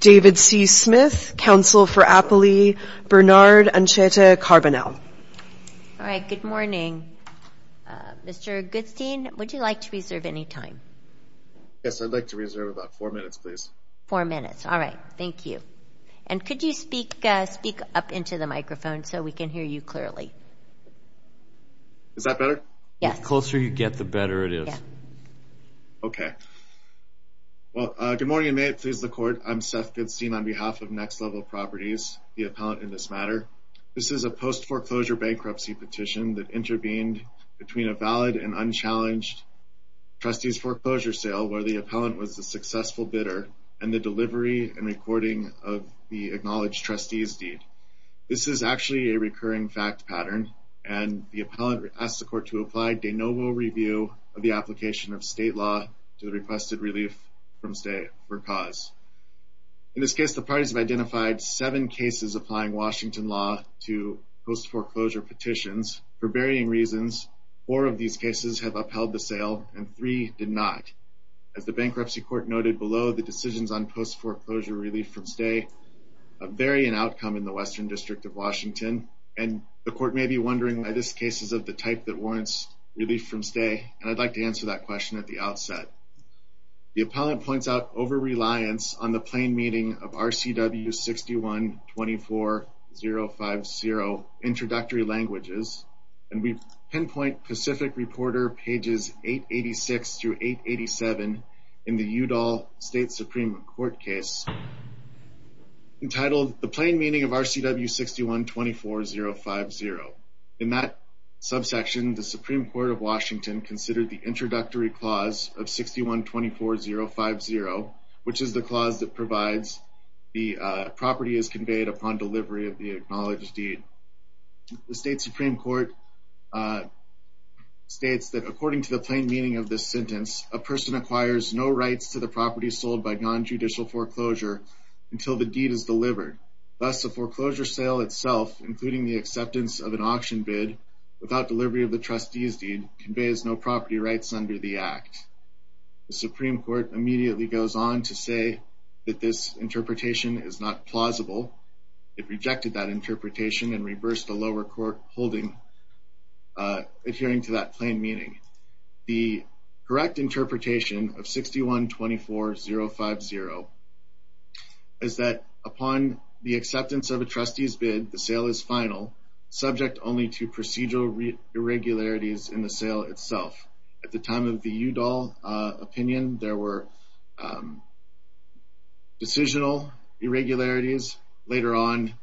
David C. Smith, Council for Appley. Bernard Ancheta Carbonell. All right, good morning. Mr. Goodstein, would you like to reserve any time? Yes, I'd like to reserve about four minutes, please. Four minutes. All right. Thank you. And could you speak up into the microphone so we can hear you clearly? Is that better? Yes. The closer you get, the better it is. Okay. Well, good morning, and may it please the Court. I'm Seth Goodstein on behalf of Next Level Properties, the appellant in this matter. This is a post-foreclosure bankruptcy petition that intervened between a valid and unchallenged trustee's foreclosure sale where the appellant was a successful bidder and the delivery and recording of the acknowledged trustee's deed. This is actually a recurring fact pattern, and the appellant asked the Court to apply de novo review of the application of state law to the requested relief from stay for cause. In this case, the parties have identified seven cases applying Washington law to post-foreclosure petitions. For varying reasons, four of these cases have upheld the sale and three did not. As the Bankruptcy Court noted below, the decisions on post-foreclosure relief from stay vary in outcome in the Western District of Washington, and the Court may be wondering why this case is of the type that warrants relief from stay, and I'd like to answer that question at the outset. The appellant points out overreliance on the plain meaning of RCW 61-24-050 introductory languages, and we pinpoint Pacific Reporter pages 886 through 887 in the Udall State Supreme Court case entitled The Plain Meaning of RCW 61-24-050. In that subsection, the Supreme Court of Washington considered the introductory clause of 61-24-050, which is the clause that provides the property is conveyed upon delivery of the acknowledged deed. The State Supreme Court states that according to the plain meaning of this sentence, a person acquires no rights to the property sold by nonjudicial foreclosure until the deed is delivered. Thus, the foreclosure sale itself, including the acceptance of an auction bid without delivery of the trustee's deed, conveys no property rights under the act. The Supreme Court immediately goes on to say that this interpretation is not plausible. It rejected that interpretation and reversed the lower court holding, adhering to that plain meaning. The correct interpretation of 61-24-050 is that upon the acceptance of a trustee's bid, the sale is final, subject only to procedural irregularities in the sale itself. At the time of the Udall opinion, there were decisional irregularities. Later on,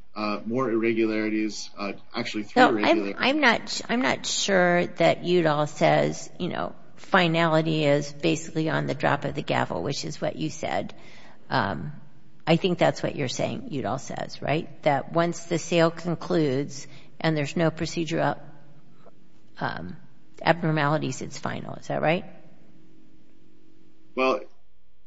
more irregularities, actually three irregularities. I'm not sure that Udall says, you know, finality is basically on the drop of the gavel, which is what you said. I think that's what you're saying Udall says, right? That once the sale concludes and there's no procedural abnormalities, it's final. Is that right? Well,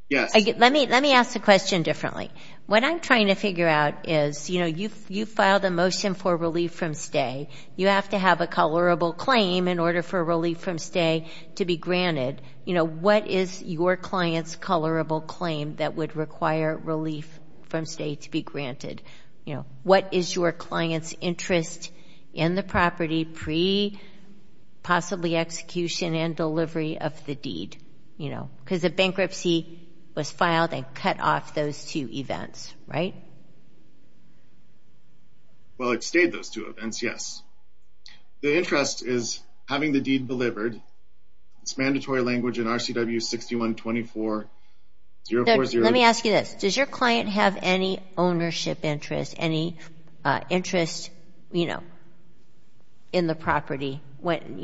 yes. Let me ask the question differently. What I'm trying to figure out is, you know, you filed a motion for relief from stay. You have to have a colorable claim in order for relief from stay to be granted. You know, what is your client's colorable claim that would require relief from stay to be granted? You know, what is your client's interest in the property pre-possibly execution and delivery of the deed? Because the bankruptcy was filed and cut off those two events, right? Well, it stayed those two events, yes. The interest is having the deed delivered. It's mandatory language in RCW 6124. Let me ask you this. Does your client have any ownership interest, any interest, you know, in the property when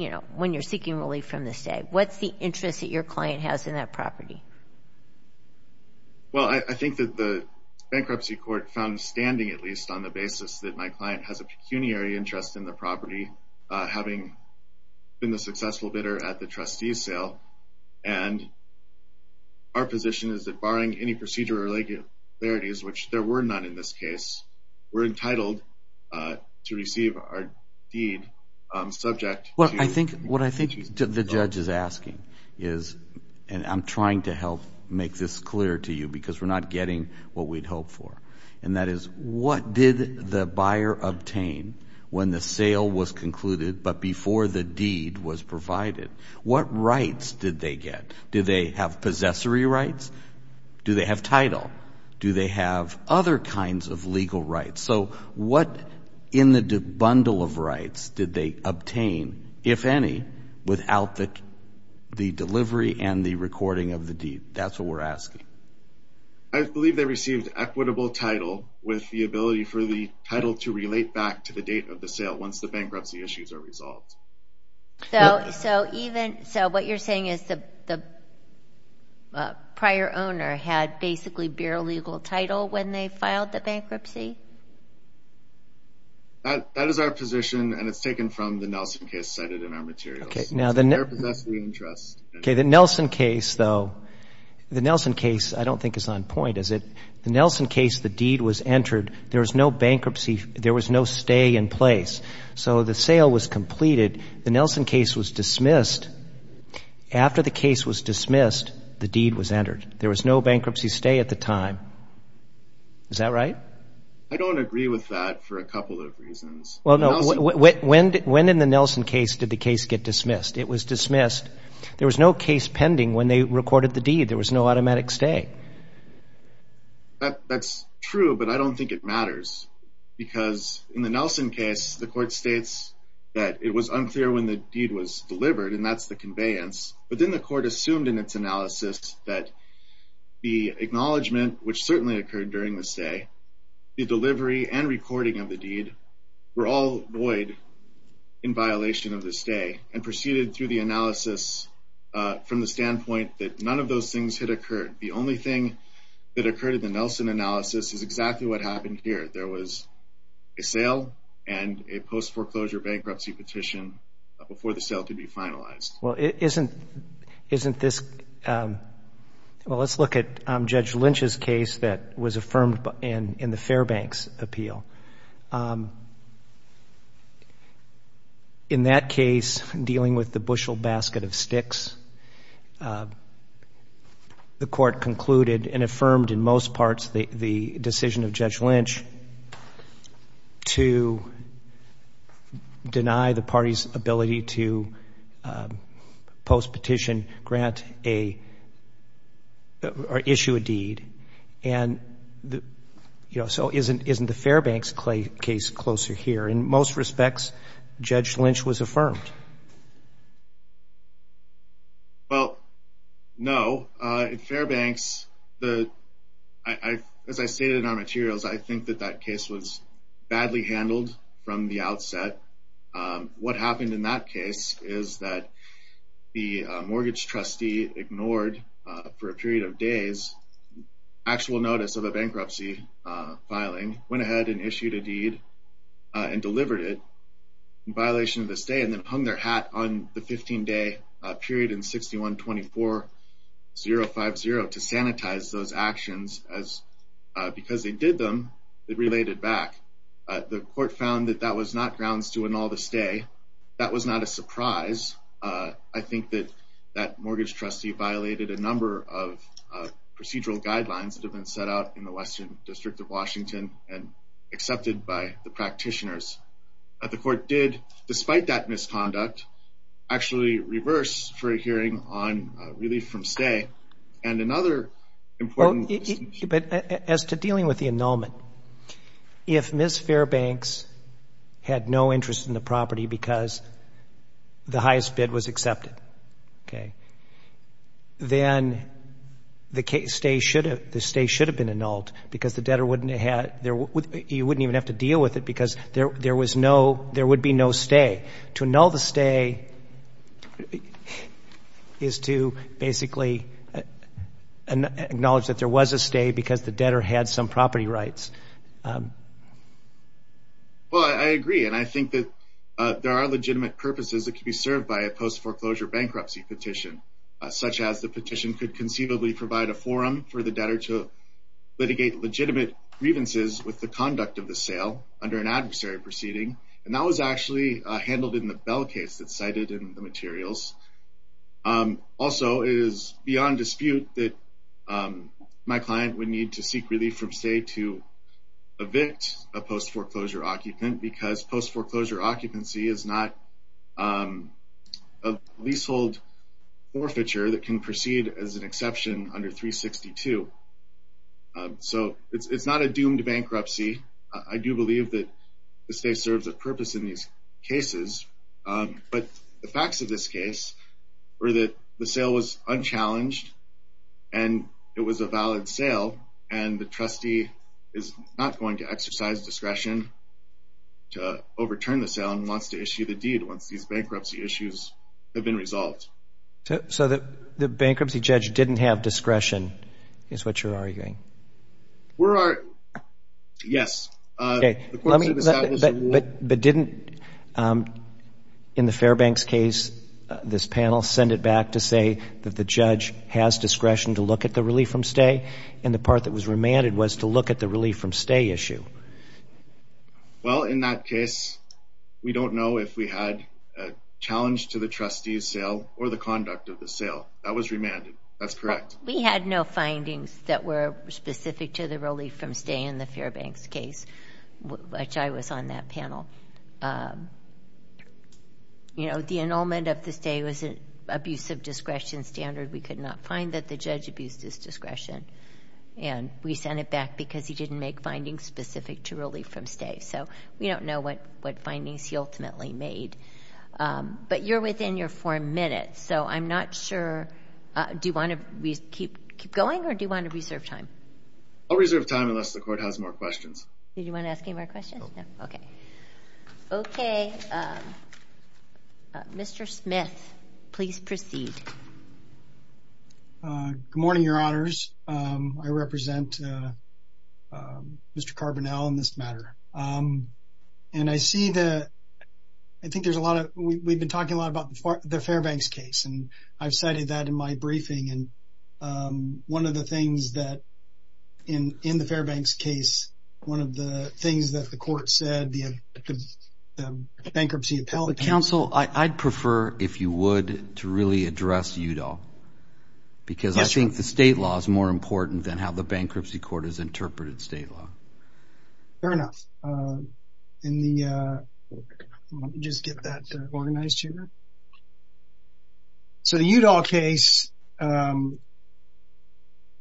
you're seeking relief from the stay? What's the interest that your client has in that property? Well, I think that the bankruptcy court found standing, at least, on the basis that my client has a pecuniary interest in the property, having been the successful bidder at the trustee's sale. And our position is that barring any procedural irregularities, which there were none in this case, we're entitled to receive our deed subject to the judge's authority. What I think the judge is asking is, and I'm trying to help make this clear to you because we're not getting what we'd hoped for, and that is what did the buyer obtain when the sale was concluded but before the deed was provided? What rights did they get? Did they have possessory rights? Do they have title? Do they have other kinds of legal rights? So what in the bundle of rights did they obtain, if any, without the delivery and the recording of the deed? That's what we're asking. I believe they received equitable title with the ability for the title to relate back to the date of the sale once the bankruptcy issues are resolved. So what you're saying is the prior owner had basically burial legal title when they filed the bankruptcy? That is our position, and it's taken from the Nelson case cited in our materials. Okay, now the Nelson case, though, the Nelson case I don't think is on point, is it? The Nelson case, the deed was entered. There was no bankruptcy. There was no stay in place. So the sale was completed. The Nelson case was dismissed. After the case was dismissed, the deed was entered. There was no bankruptcy stay at the time. Is that right? I don't agree with that for a couple of reasons. When in the Nelson case did the case get dismissed? It was dismissed. There was no case pending when they recorded the deed. There was no automatic stay. That's true, but I don't think it matters because in the Nelson case the court states that it was unclear when the deed was delivered, and that's the conveyance. But then the court assumed in its analysis that the acknowledgement, which certainly occurred during the stay, the delivery and recording of the deed, were all void in violation of the stay and proceeded through the analysis from the standpoint that none of those things had occurred. The only thing that occurred in the Nelson analysis is exactly what happened here. There was a sale and a post-foreclosure bankruptcy petition before the sale could be finalized. Well, let's look at Judge Lynch's case that was affirmed in the Fairbanks appeal. In that case, dealing with the bushel basket of sticks, the court concluded and affirmed in most parts the decision of Judge Lynch to deny the party's ability to post-petition grant a or issue a deed. And, you know, so isn't the Fairbanks case closer here? In most respects, Judge Lynch was affirmed. Well, no. In Fairbanks, as I stated in our materials, I think that that case was badly handled from the outset. What happened in that case is that the mortgage trustee ignored, for a period of days, actual notice of a bankruptcy filing, went ahead and issued a deed and delivered it in violation of the stay and then hung their hat on the 15-day period in 6124.050 to sanitize those actions. Because they did them, it related back. The court found that that was not grounds to annul the stay. That was not a surprise. I think that that mortgage trustee violated a number of procedural guidelines that have been set out in the Western District of Washington and accepted by the practitioners. But the court did, despite that misconduct, actually reverse for a hearing on relief from stay. And another important distinction... But as to dealing with the annulment, if Ms. Fairbanks had no interest in the property because the highest bid was accepted, then the stay should have been annulled because you wouldn't even have to deal with it because there would be no stay. To annul the stay is to basically acknowledge that there was a stay because the debtor had some property rights. Well, I agree. And I think that there are legitimate purposes that could be served by a post-foreclosure bankruptcy petition, such as the petition could conceivably provide a forum for the debtor to litigate legitimate grievances with the conduct of the sale under an adversary proceeding. And that was actually handled in the Bell case that's cited in the materials. Also, it is beyond dispute that my client would need to seek relief from stay to evict a post-foreclosure occupant because post-foreclosure occupancy is not a leasehold forfeiture that can proceed as an exception under 362. So it's not a doomed bankruptcy. I do believe that the stay serves a purpose in these cases. But the facts of this case were that the sale was unchallenged, and it was a valid sale, and the trustee is not going to exercise discretion to overturn the sale and wants to issue the deed once these bankruptcy issues have been resolved. So the bankruptcy judge didn't have discretion is what you're arguing? We're arguing, yes. But didn't, in the Fairbanks case, this panel send it back to say that the judge has discretion to look at the relief from stay, and the part that was remanded was to look at the relief from stay issue? Well, in that case, we don't know if we had a challenge to the trustee's sale or the conduct of the sale. That was remanded. That's correct. We had no findings that were specific to the relief from stay in the Fairbanks case, which I was on that panel. You know, the annulment of the stay was an abuse of discretion standard. We could not find that the judge abused his discretion, and we sent it back because he didn't make findings specific to relief from stay. So we don't know what findings he ultimately made. But you're within your four minutes, so I'm not sure. Do you want to keep going, or do you want to reserve time? I'll reserve time unless the Court has more questions. Do you want to ask any more questions? No. Okay. Okay. Mr. Smith, please proceed. Good morning, Your Honors. I represent Mr. Carbonell in this matter. And I see the – I think there's a lot of – we've been talking a lot about the Fairbanks case, and I've cited that in my briefing. And one of the things that – in the Fairbanks case, one of the things that the Court said, the bankruptcy appellate counsel – Counsel, I'd prefer, if you would, to really address Udall. Because I think the state law is more important than how the bankruptcy court has interpreted state law. Fair enough. Let me just get that organized here. So the Udall case –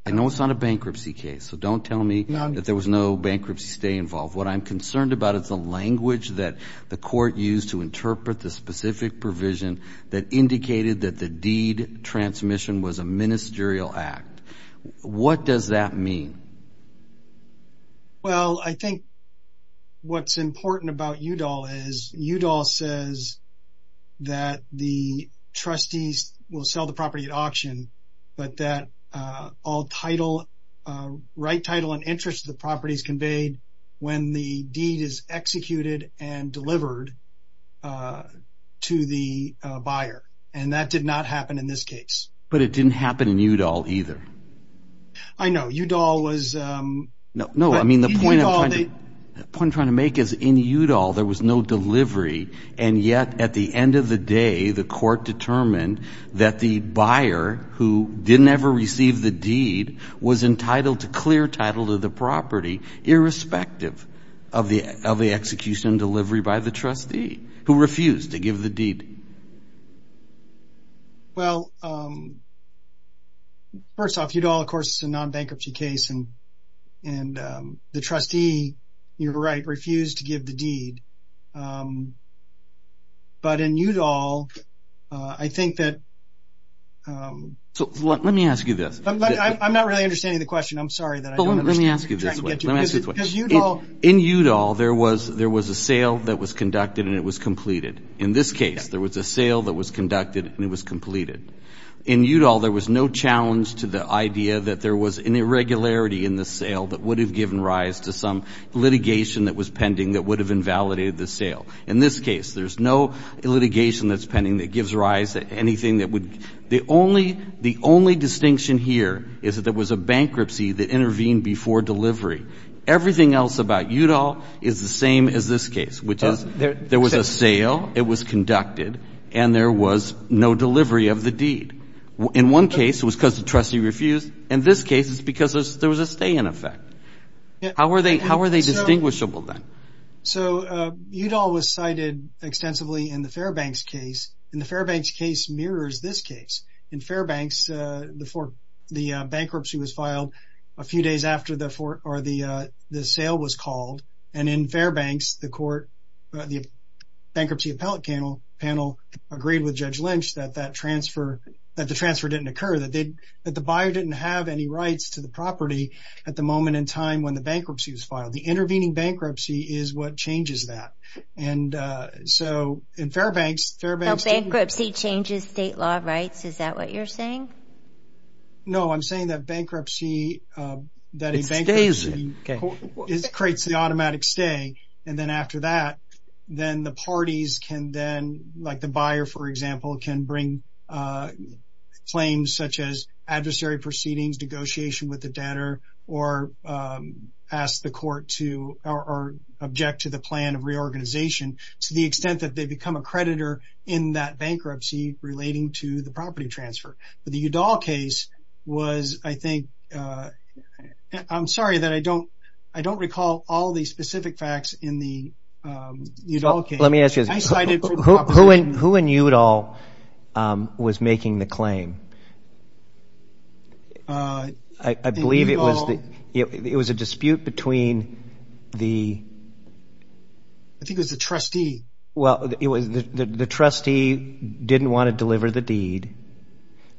I know it's not a bankruptcy case, so don't tell me that there was no bankruptcy stay involved. What I'm concerned about is the language that the Court used to interpret the specific provision that indicated that the deed transmission was a ministerial act. What does that mean? Well, I think what's important about Udall is Udall says that the trustees will sell the property at auction, but that all title – right title and interest of the property is conveyed when the deed is executed and delivered to the buyer. And that did not happen in this case. But it didn't happen in Udall either. I know. Udall was – No, I mean, the point I'm trying to make is in Udall there was no delivery, and yet at the end of the day the Court determined that the buyer who didn't ever receive the deed was entitled to clear title of the property irrespective of the execution and delivery by the trustee who refused to give the deed. Well, first off, Udall, of course, is a non-bankruptcy case, and the trustee, you're right, refused to give the deed. But in Udall, I think that – Let me ask you this. I'm not really understanding the question. I'm sorry that I don't understand. Let me ask you this way. Because Udall – In Udall there was a sale that was conducted and it was completed. In this case there was a sale that was conducted and it was completed. In Udall there was no challenge to the idea that there was an irregularity in the sale that would have given rise to some litigation that was pending that would have invalidated the sale. In this case there's no litigation that's pending that gives rise to anything that would – the only distinction here is that there was a bankruptcy that intervened before delivery. Everything else about Udall is the same as this case, which is there was a sale. It was conducted and there was no delivery of the deed. In one case it was because the trustee refused. In this case it's because there was a stay in effect. How are they distinguishable then? So Udall was cited extensively in the Fairbanks case, and the Fairbanks case mirrors this case. In Fairbanks the bankruptcy was filed a few days after the sale was called, and in Fairbanks the bankruptcy appellate panel agreed with Judge Lynch that that transfer – that the transfer didn't occur, that the buyer didn't have any rights to the property at the moment in time when the bankruptcy was filed. The intervening bankruptcy is what changes that. And so in Fairbanks – No, bankruptcy changes state law rights. Is that what you're saying? No, I'm saying that bankruptcy – It stays. It creates the automatic stay, and then after that, then the parties can then – like the buyer, for example, can bring claims such as adversary proceedings, negotiation with the debtor, or ask the court to – or object to the plan of reorganization to the extent that they become a creditor in that bankruptcy relating to the property transfer. But the Udall case was, I think – I'm sorry that I don't recall all the specific facts in the Udall case. Let me ask you this. Who in Udall was making the claim? I believe it was the – it was a dispute between the – I think it was the trustee. Well, it was – the trustee didn't want to deliver the deed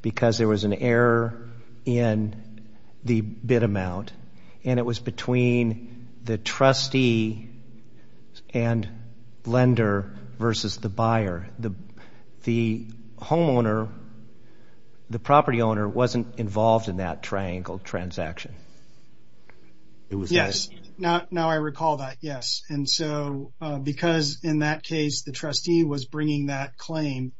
because there was an error in the bid amount, and it was between the trustee and lender versus the buyer. The homeowner, the property owner, wasn't involved in that triangle transaction. Yes. Now I recall that, yes. And so because in that case the trustee was bringing that claim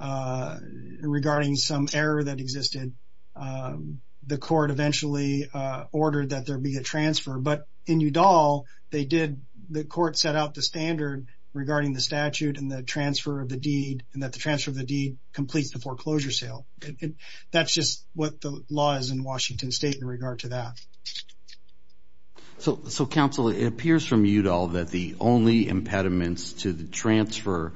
regarding some error that existed, the court eventually ordered that there be a transfer. But in Udall, they did – the court set out the standard regarding the statute and the transfer of the deed and that the transfer of the deed completes the foreclosure sale. That's just what the law is in Washington State in regard to that. So, counsel, it appears from Udall that the only impediments to the transfer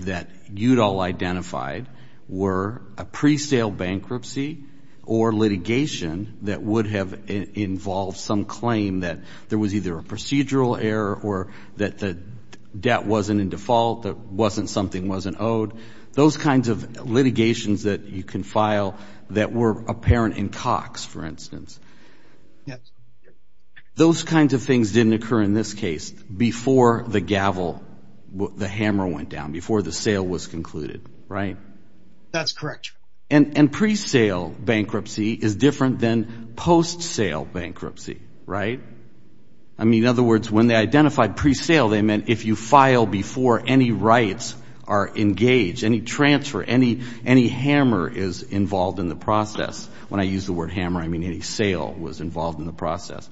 that Udall identified were a pre-sale bankruptcy or litigation that would have involved some claim that there was either a procedural error or that the debt wasn't in default, that something wasn't owed, those kinds of litigations that you can file that were apparent in Cox, for instance. Yes. Those kinds of things didn't occur in this case before the gavel, the hammer went down, before the sale was concluded, right? That's correct. And pre-sale bankruptcy is different than post-sale bankruptcy, right? I mean, in other words, when they identified pre-sale, they meant if you file before any rights are engaged, any transfer, any hammer is involved in the process. When I use the word hammer, I mean any sale was involved in the process.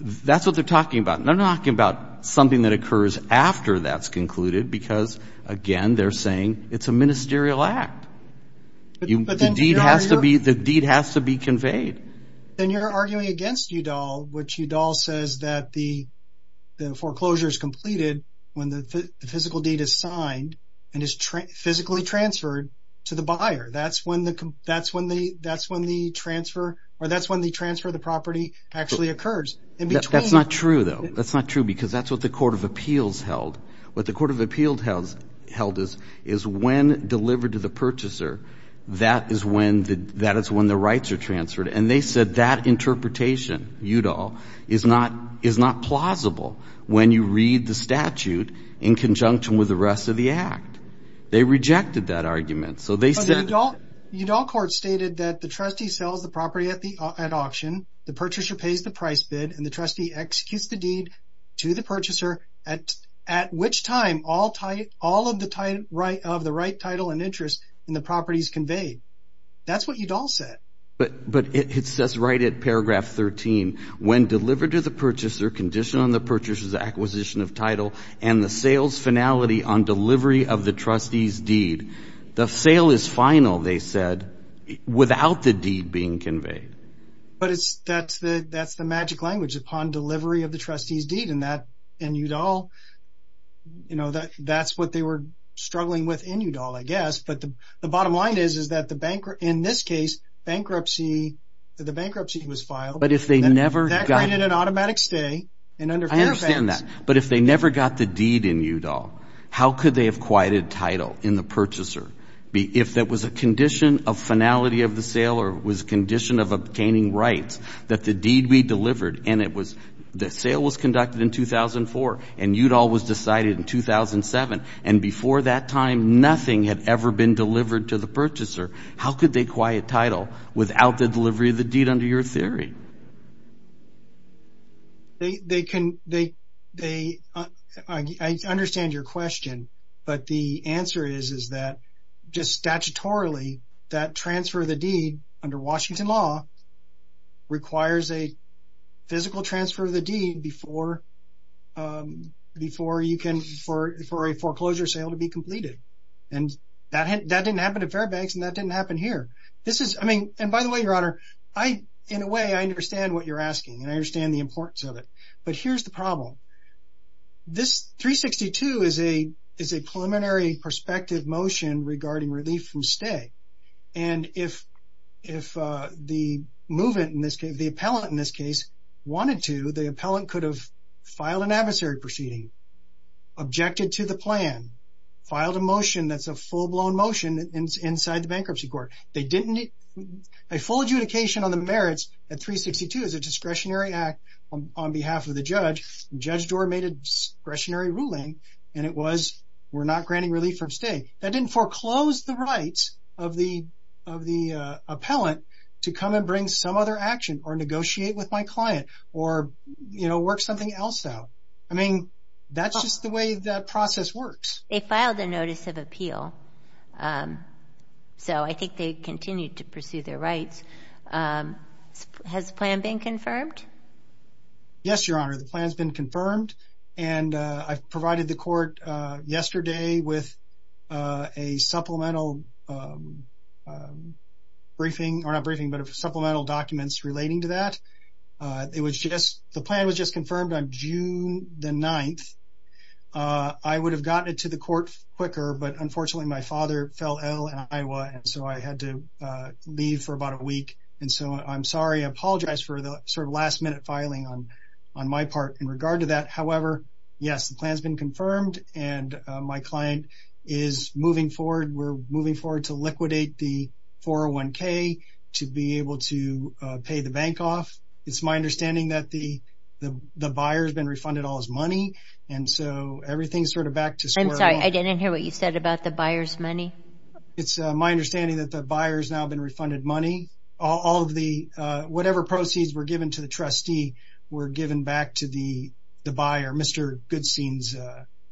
That's what they're talking about. They're not talking about something that occurs after that's concluded because, again, they're saying it's a ministerial act. The deed has to be conveyed. Then you're arguing against Udall, which Udall says that the foreclosure is completed when the physical deed is signed and is physically transferred to the buyer. That's when the transfer of the property actually occurs. That's not true, though. That's not true because that's what the Court of Appeals held. What the Court of Appeals held is when delivered to the purchaser, that is when the rights are transferred. And they said that interpretation, Udall, is not plausible when you read the statute in conjunction with the rest of the act. They rejected that argument. Udall Court stated that the trustee sells the property at auction, the purchaser pays the price bid, and the trustee executes the deed to the purchaser, at which time all of the right title and interest in the property is conveyed. That's what Udall said. But it says right at paragraph 13, when delivered to the purchaser, conditioned on the purchaser's acquisition of title The sale is final, they said, without the deed being conveyed. But that's the magic language, upon delivery of the trustee's deed. And Udall, that's what they were struggling with in Udall, I guess. But the bottom line is that in this case, the bankruptcy was filed. But if they never got the deed in Udall, how could they have quieted title in the purchaser? If that was a condition of finality of the sale or was a condition of obtaining rights, that the deed be delivered, and the sale was conducted in 2004, and Udall was decided in 2007, and before that time nothing had ever been delivered to the purchaser, how could they quiet title without the delivery of the deed under your theory? I understand your question. But the answer is that just statutorily, that transfer of the deed under Washington law requires a physical transfer of the deed before a foreclosure sale can be completed. And that didn't happen at Fairbanks, and that didn't happen here. And by the way, Your Honor, in a way I understand what you're asking, and I understand the importance of it. But here's the problem. This 362 is a preliminary prospective motion regarding relief from stay. And if the movement, the appellant in this case, wanted to, the appellant could have filed an adversary proceeding, objected to the plan, filed a motion that's a full-blown motion inside the bankruptcy court. They didn't need a full adjudication on the merits at 362 as a discretionary act on behalf of the judge, and Judge Doar made a discretionary ruling, and it was we're not granting relief from stay. That didn't foreclose the rights of the appellant to come and bring some other action or negotiate with my client or, you know, work something else out. I mean, that's just the way that process works. They filed a notice of appeal. So I think they continued to pursue their rights. Has the plan been confirmed? Yes, Your Honor, the plan's been confirmed, and I provided the court yesterday with a supplemental briefing, or not briefing, but supplemental documents relating to that. The plan was just confirmed on June the 9th. I would have gotten it to the court quicker, but unfortunately my father fell ill in Iowa, and so I had to leave for about a week, and so I'm sorry. I apologize for the sort of last-minute filing on my part in regard to that. However, yes, the plan's been confirmed, and my client is moving forward. We're moving forward to liquidate the 401K to be able to pay the bank off. It's my understanding that the buyer's been refunded all his money, and so everything's sort of back to square one. I'm sorry, I didn't hear what you said about the buyer's money. It's my understanding that the buyer's now been refunded money. Whatever proceeds were given to the trustee were given back to the buyer, Mr. Goodstein's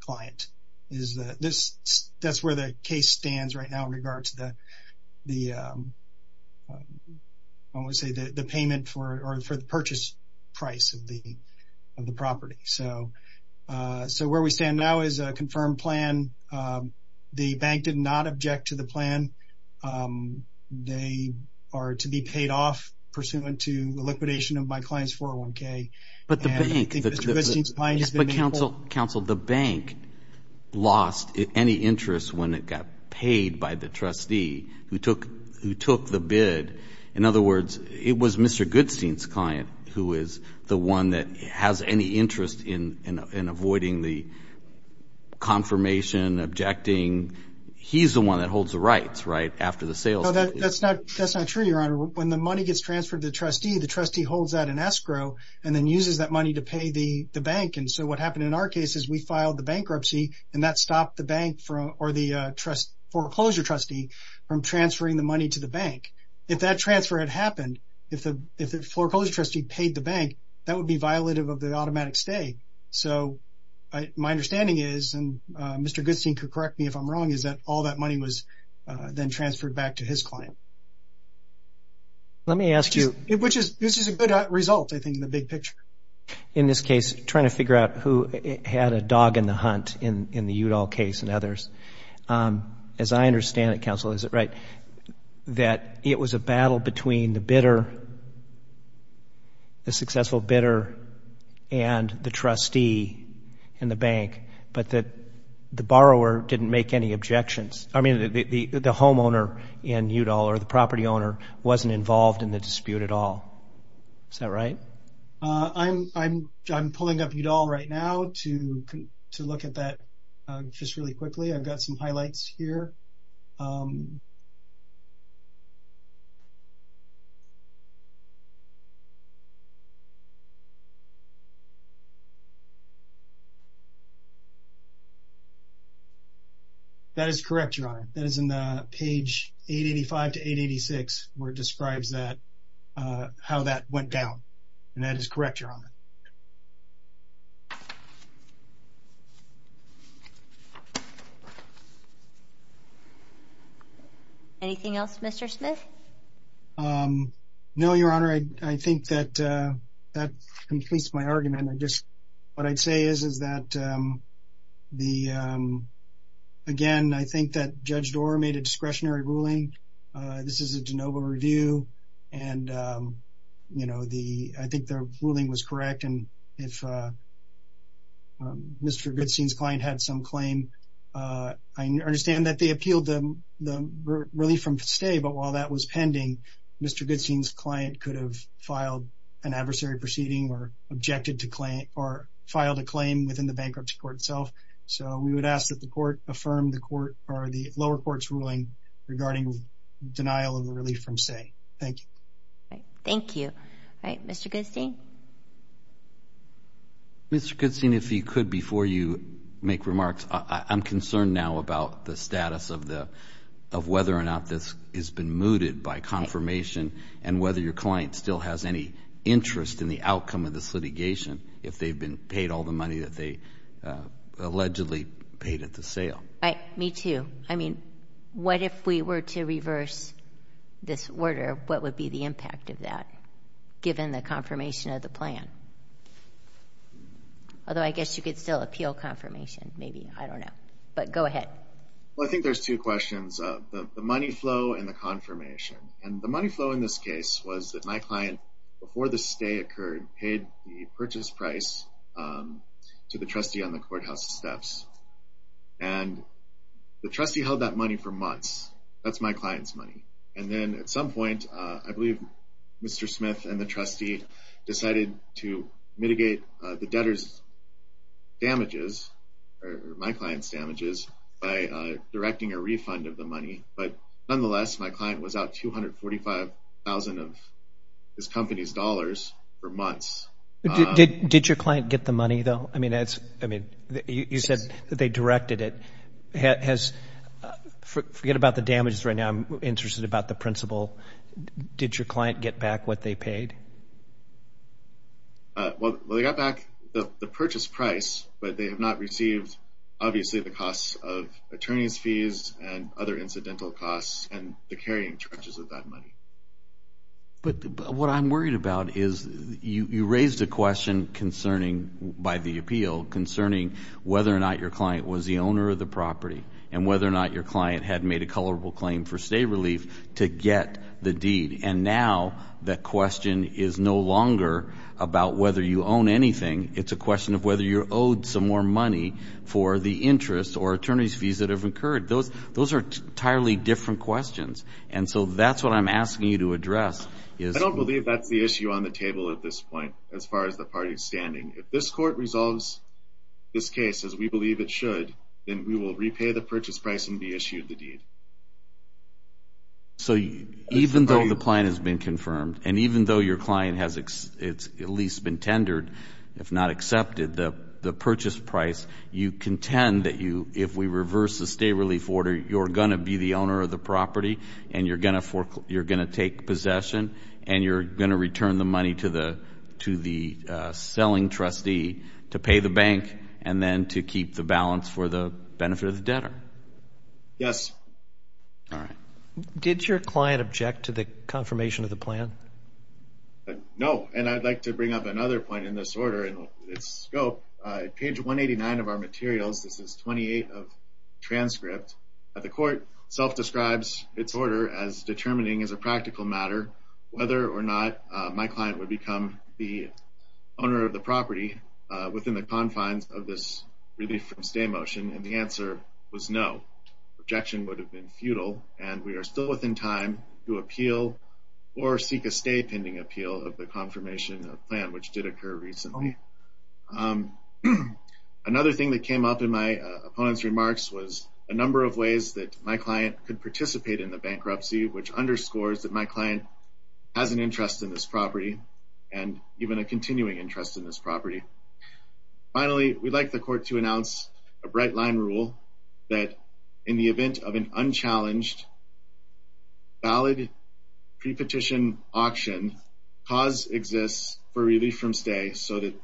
client. That's where the case stands right now in regard to the payment or for the purchase price of the property. So where we stand now is a confirmed plan. The bank did not object to the plan. They are to be paid off pursuant to the liquidation of my client's 401K. But counsel, the bank lost any interest when it got paid by the trustee who took the bid. In other words, it was Mr. Goodstein's client who is the one that has any interest in avoiding the confirmation, objecting. He's the one that holds the rights, right, after the sales. That's not true, Your Honor. When the money gets transferred to the trustee, the trustee holds that in escrow, and then uses that money to pay the bank. And so what happened in our case is we filed the bankruptcy, and that stopped the bank or the foreclosure trustee from transferring the money to the bank. If that transfer had happened, if the foreclosure trustee paid the bank, that would be violative of the automatic stay. So my understanding is, and Mr. Goodstein can correct me if I'm wrong, is that all that money was then transferred back to his client. Let me ask you. Which is a good result, I think, in the big picture. In this case, trying to figure out who had a dog in the hunt in the Udall case and others. As I understand it, counsel, is it right that it was a battle between the bidder, the successful bidder, and the trustee in the bank, but that the borrower didn't make any objections. I mean, the homeowner in Udall or the property owner wasn't involved in the dispute at all. Is that right? I'm pulling up Udall right now to look at that just really quickly. I've got some highlights here. That is correct, Your Honor. That is in the page 885 to 886 where it describes how that went down. And that is correct, Your Honor. Anything else, Mr. Smith? No, Your Honor. I think that completes my argument. What I'd say is that, again, I think that Judge Doar made a discretionary ruling. This is a de novo review, and I think the ruling was correct. And if Mr. Goodstein's client had some claim, I understand that they appealed the relief from stay, but while that was pending, Mr. Goodstein's client could have filed an adversary proceeding or objected to claim or filed a claim within the bankruptcy court itself. So we would ask that the court affirm the lower court's ruling regarding denial of relief from stay. Thank you. Thank you. All right. Mr. Goodstein? Mr. Goodstein, if you could, before you make remarks, I'm concerned now about the status of whether or not this has been mooted by confirmation and whether your client still has any interest in the outcome of this litigation if they've been paid all the money that they allegedly paid at the sale. Right. Me too. I mean, what if we were to reverse this order? What would be the impact of that given the confirmation of the plan? Although I guess you could still appeal confirmation maybe. I don't know. But go ahead. Well, I think there's two questions, the money flow and the confirmation. And the money flow in this case was that my client, before the stay occurred, paid the purchase price to the trustee on the courthouse steps. And the trustee held that money for months. That's my client's money. And then at some point, I believe Mr. Smith and the trustee decided to mitigate the debtor's damages or my client's damages by directing a refund of the money. But nonetheless, my client was out $245,000 of his company's dollars for months. Did your client get the money, though? I mean, you said that they directed it. Forget about the damages right now. I'm interested about the principal. Did your client get back what they paid? Well, they got back the purchase price, but they have not received obviously the costs of attorney's fees and other incidental costs and the carrying charges of that money. But what I'm worried about is you raised a question concerning, by the appeal, concerning whether or not your client was the owner of the property and whether or not your client had made a colorable claim for stay relief to get the deed. And now the question is no longer about whether you own anything. It's a question of whether you're owed some more money for the interest or attorney's fees that have occurred. Those are entirely different questions. And so that's what I'm asking you to address. I don't believe that's the issue on the table at this point as far as the party is standing. If this court resolves this case as we believe it should, then we will repay the purchase price and be issued the deed. So even though the client has been confirmed and even though your client has at least been tendered, if not accepted, the purchase price, you contend that if we reverse the stay relief order, you're going to be the owner of the property and you're going to take possession and you're going to return the money to the selling trustee to pay the bank and then to keep the balance for the benefit of the debtor. Yes. All right. Did your client object to the confirmation of the plan? No. And I'd like to bring up another point in this order and its scope. Page 189 of our materials, this is 28 of transcript, the court self-describes its order as determining as a practical matter whether or not my client would become the owner of the property within the confines of this relief from stay motion, and the answer was no. Objection would have been futile, and we are still within time to appeal or seek a stay pending appeal of the confirmation of the plan, which did occur recently. Another thing that came up in my opponent's remarks was a number of ways that my client could participate in the bankruptcy, which underscores that my client has an interest in this property and even a continuing interest in this property. Finally, we'd like the court to announce a bright line rule that in the event of an unchallenged, valid pre-petition auction, cause exists for relief from stay so that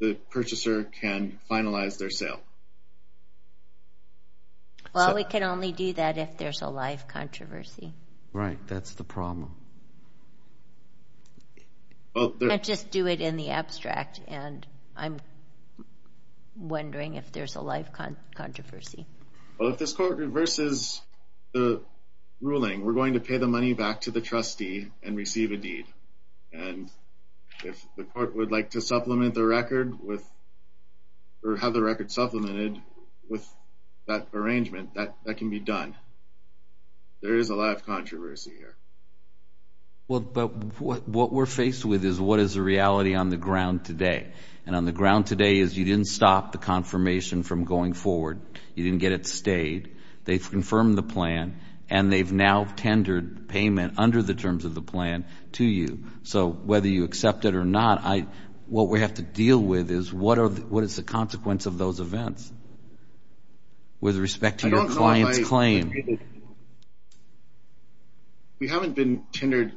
the purchaser can finalize their sale. Well, we can only do that if there's a live controversy. Right. That's the problem. I just do it in the abstract, and I'm wondering if there's a live controversy. Well, if this court reverses the ruling, we're going to pay the money back to the trustee and receive a deed, and if the court would like to supplement the record with or have the record supplemented with that arrangement, that can be done. There is a live controversy here. Well, what we're faced with is what is the reality on the ground today, and on the ground today is you didn't stop the confirmation from going forward. You didn't get it stayed. They've confirmed the plan, and they've now tendered payment under the terms of the plan to you. So whether you accept it or not, what we have to deal with is what is the consequence of those events with respect to your client's claim. We haven't been tendered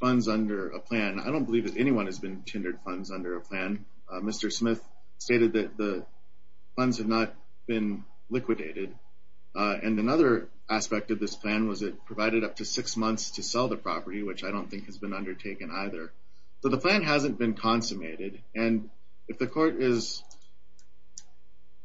funds under a plan. I don't believe that anyone has been tendered funds under a plan. Mr. Smith stated that the funds have not been liquidated, and another aspect of this plan was it provided up to six months to sell the property, which I don't think has been undertaken either. So the plan hasn't been consummated, and if the court is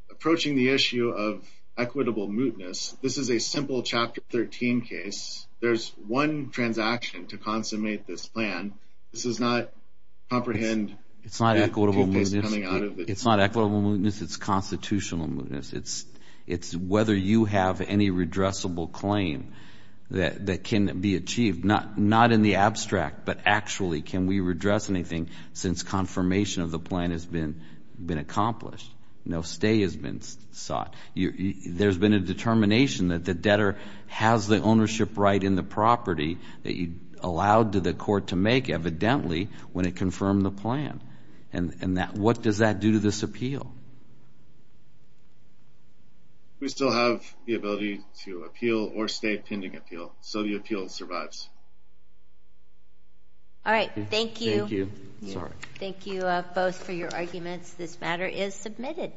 approaching the issue of equitable mootness, this is a simple Chapter 13 case. There's one transaction to consummate this plan. This does not comprehend. It's not equitable mootness. It's not equitable mootness. It's constitutional mootness. It's whether you have any redressable claim that can be achieved, not in the abstract, but actually can we redress anything since confirmation of the plan has been accomplished. No stay has been sought. There's been a determination that the debtor has the ownership right in the property that he allowed the court to make evidently when it confirmed the plan. And what does that do to this appeal? We still have the ability to appeal or stay pending appeal. So the appeal survives. All right. Thank you. Thank you both for your arguments. This matter is submitted.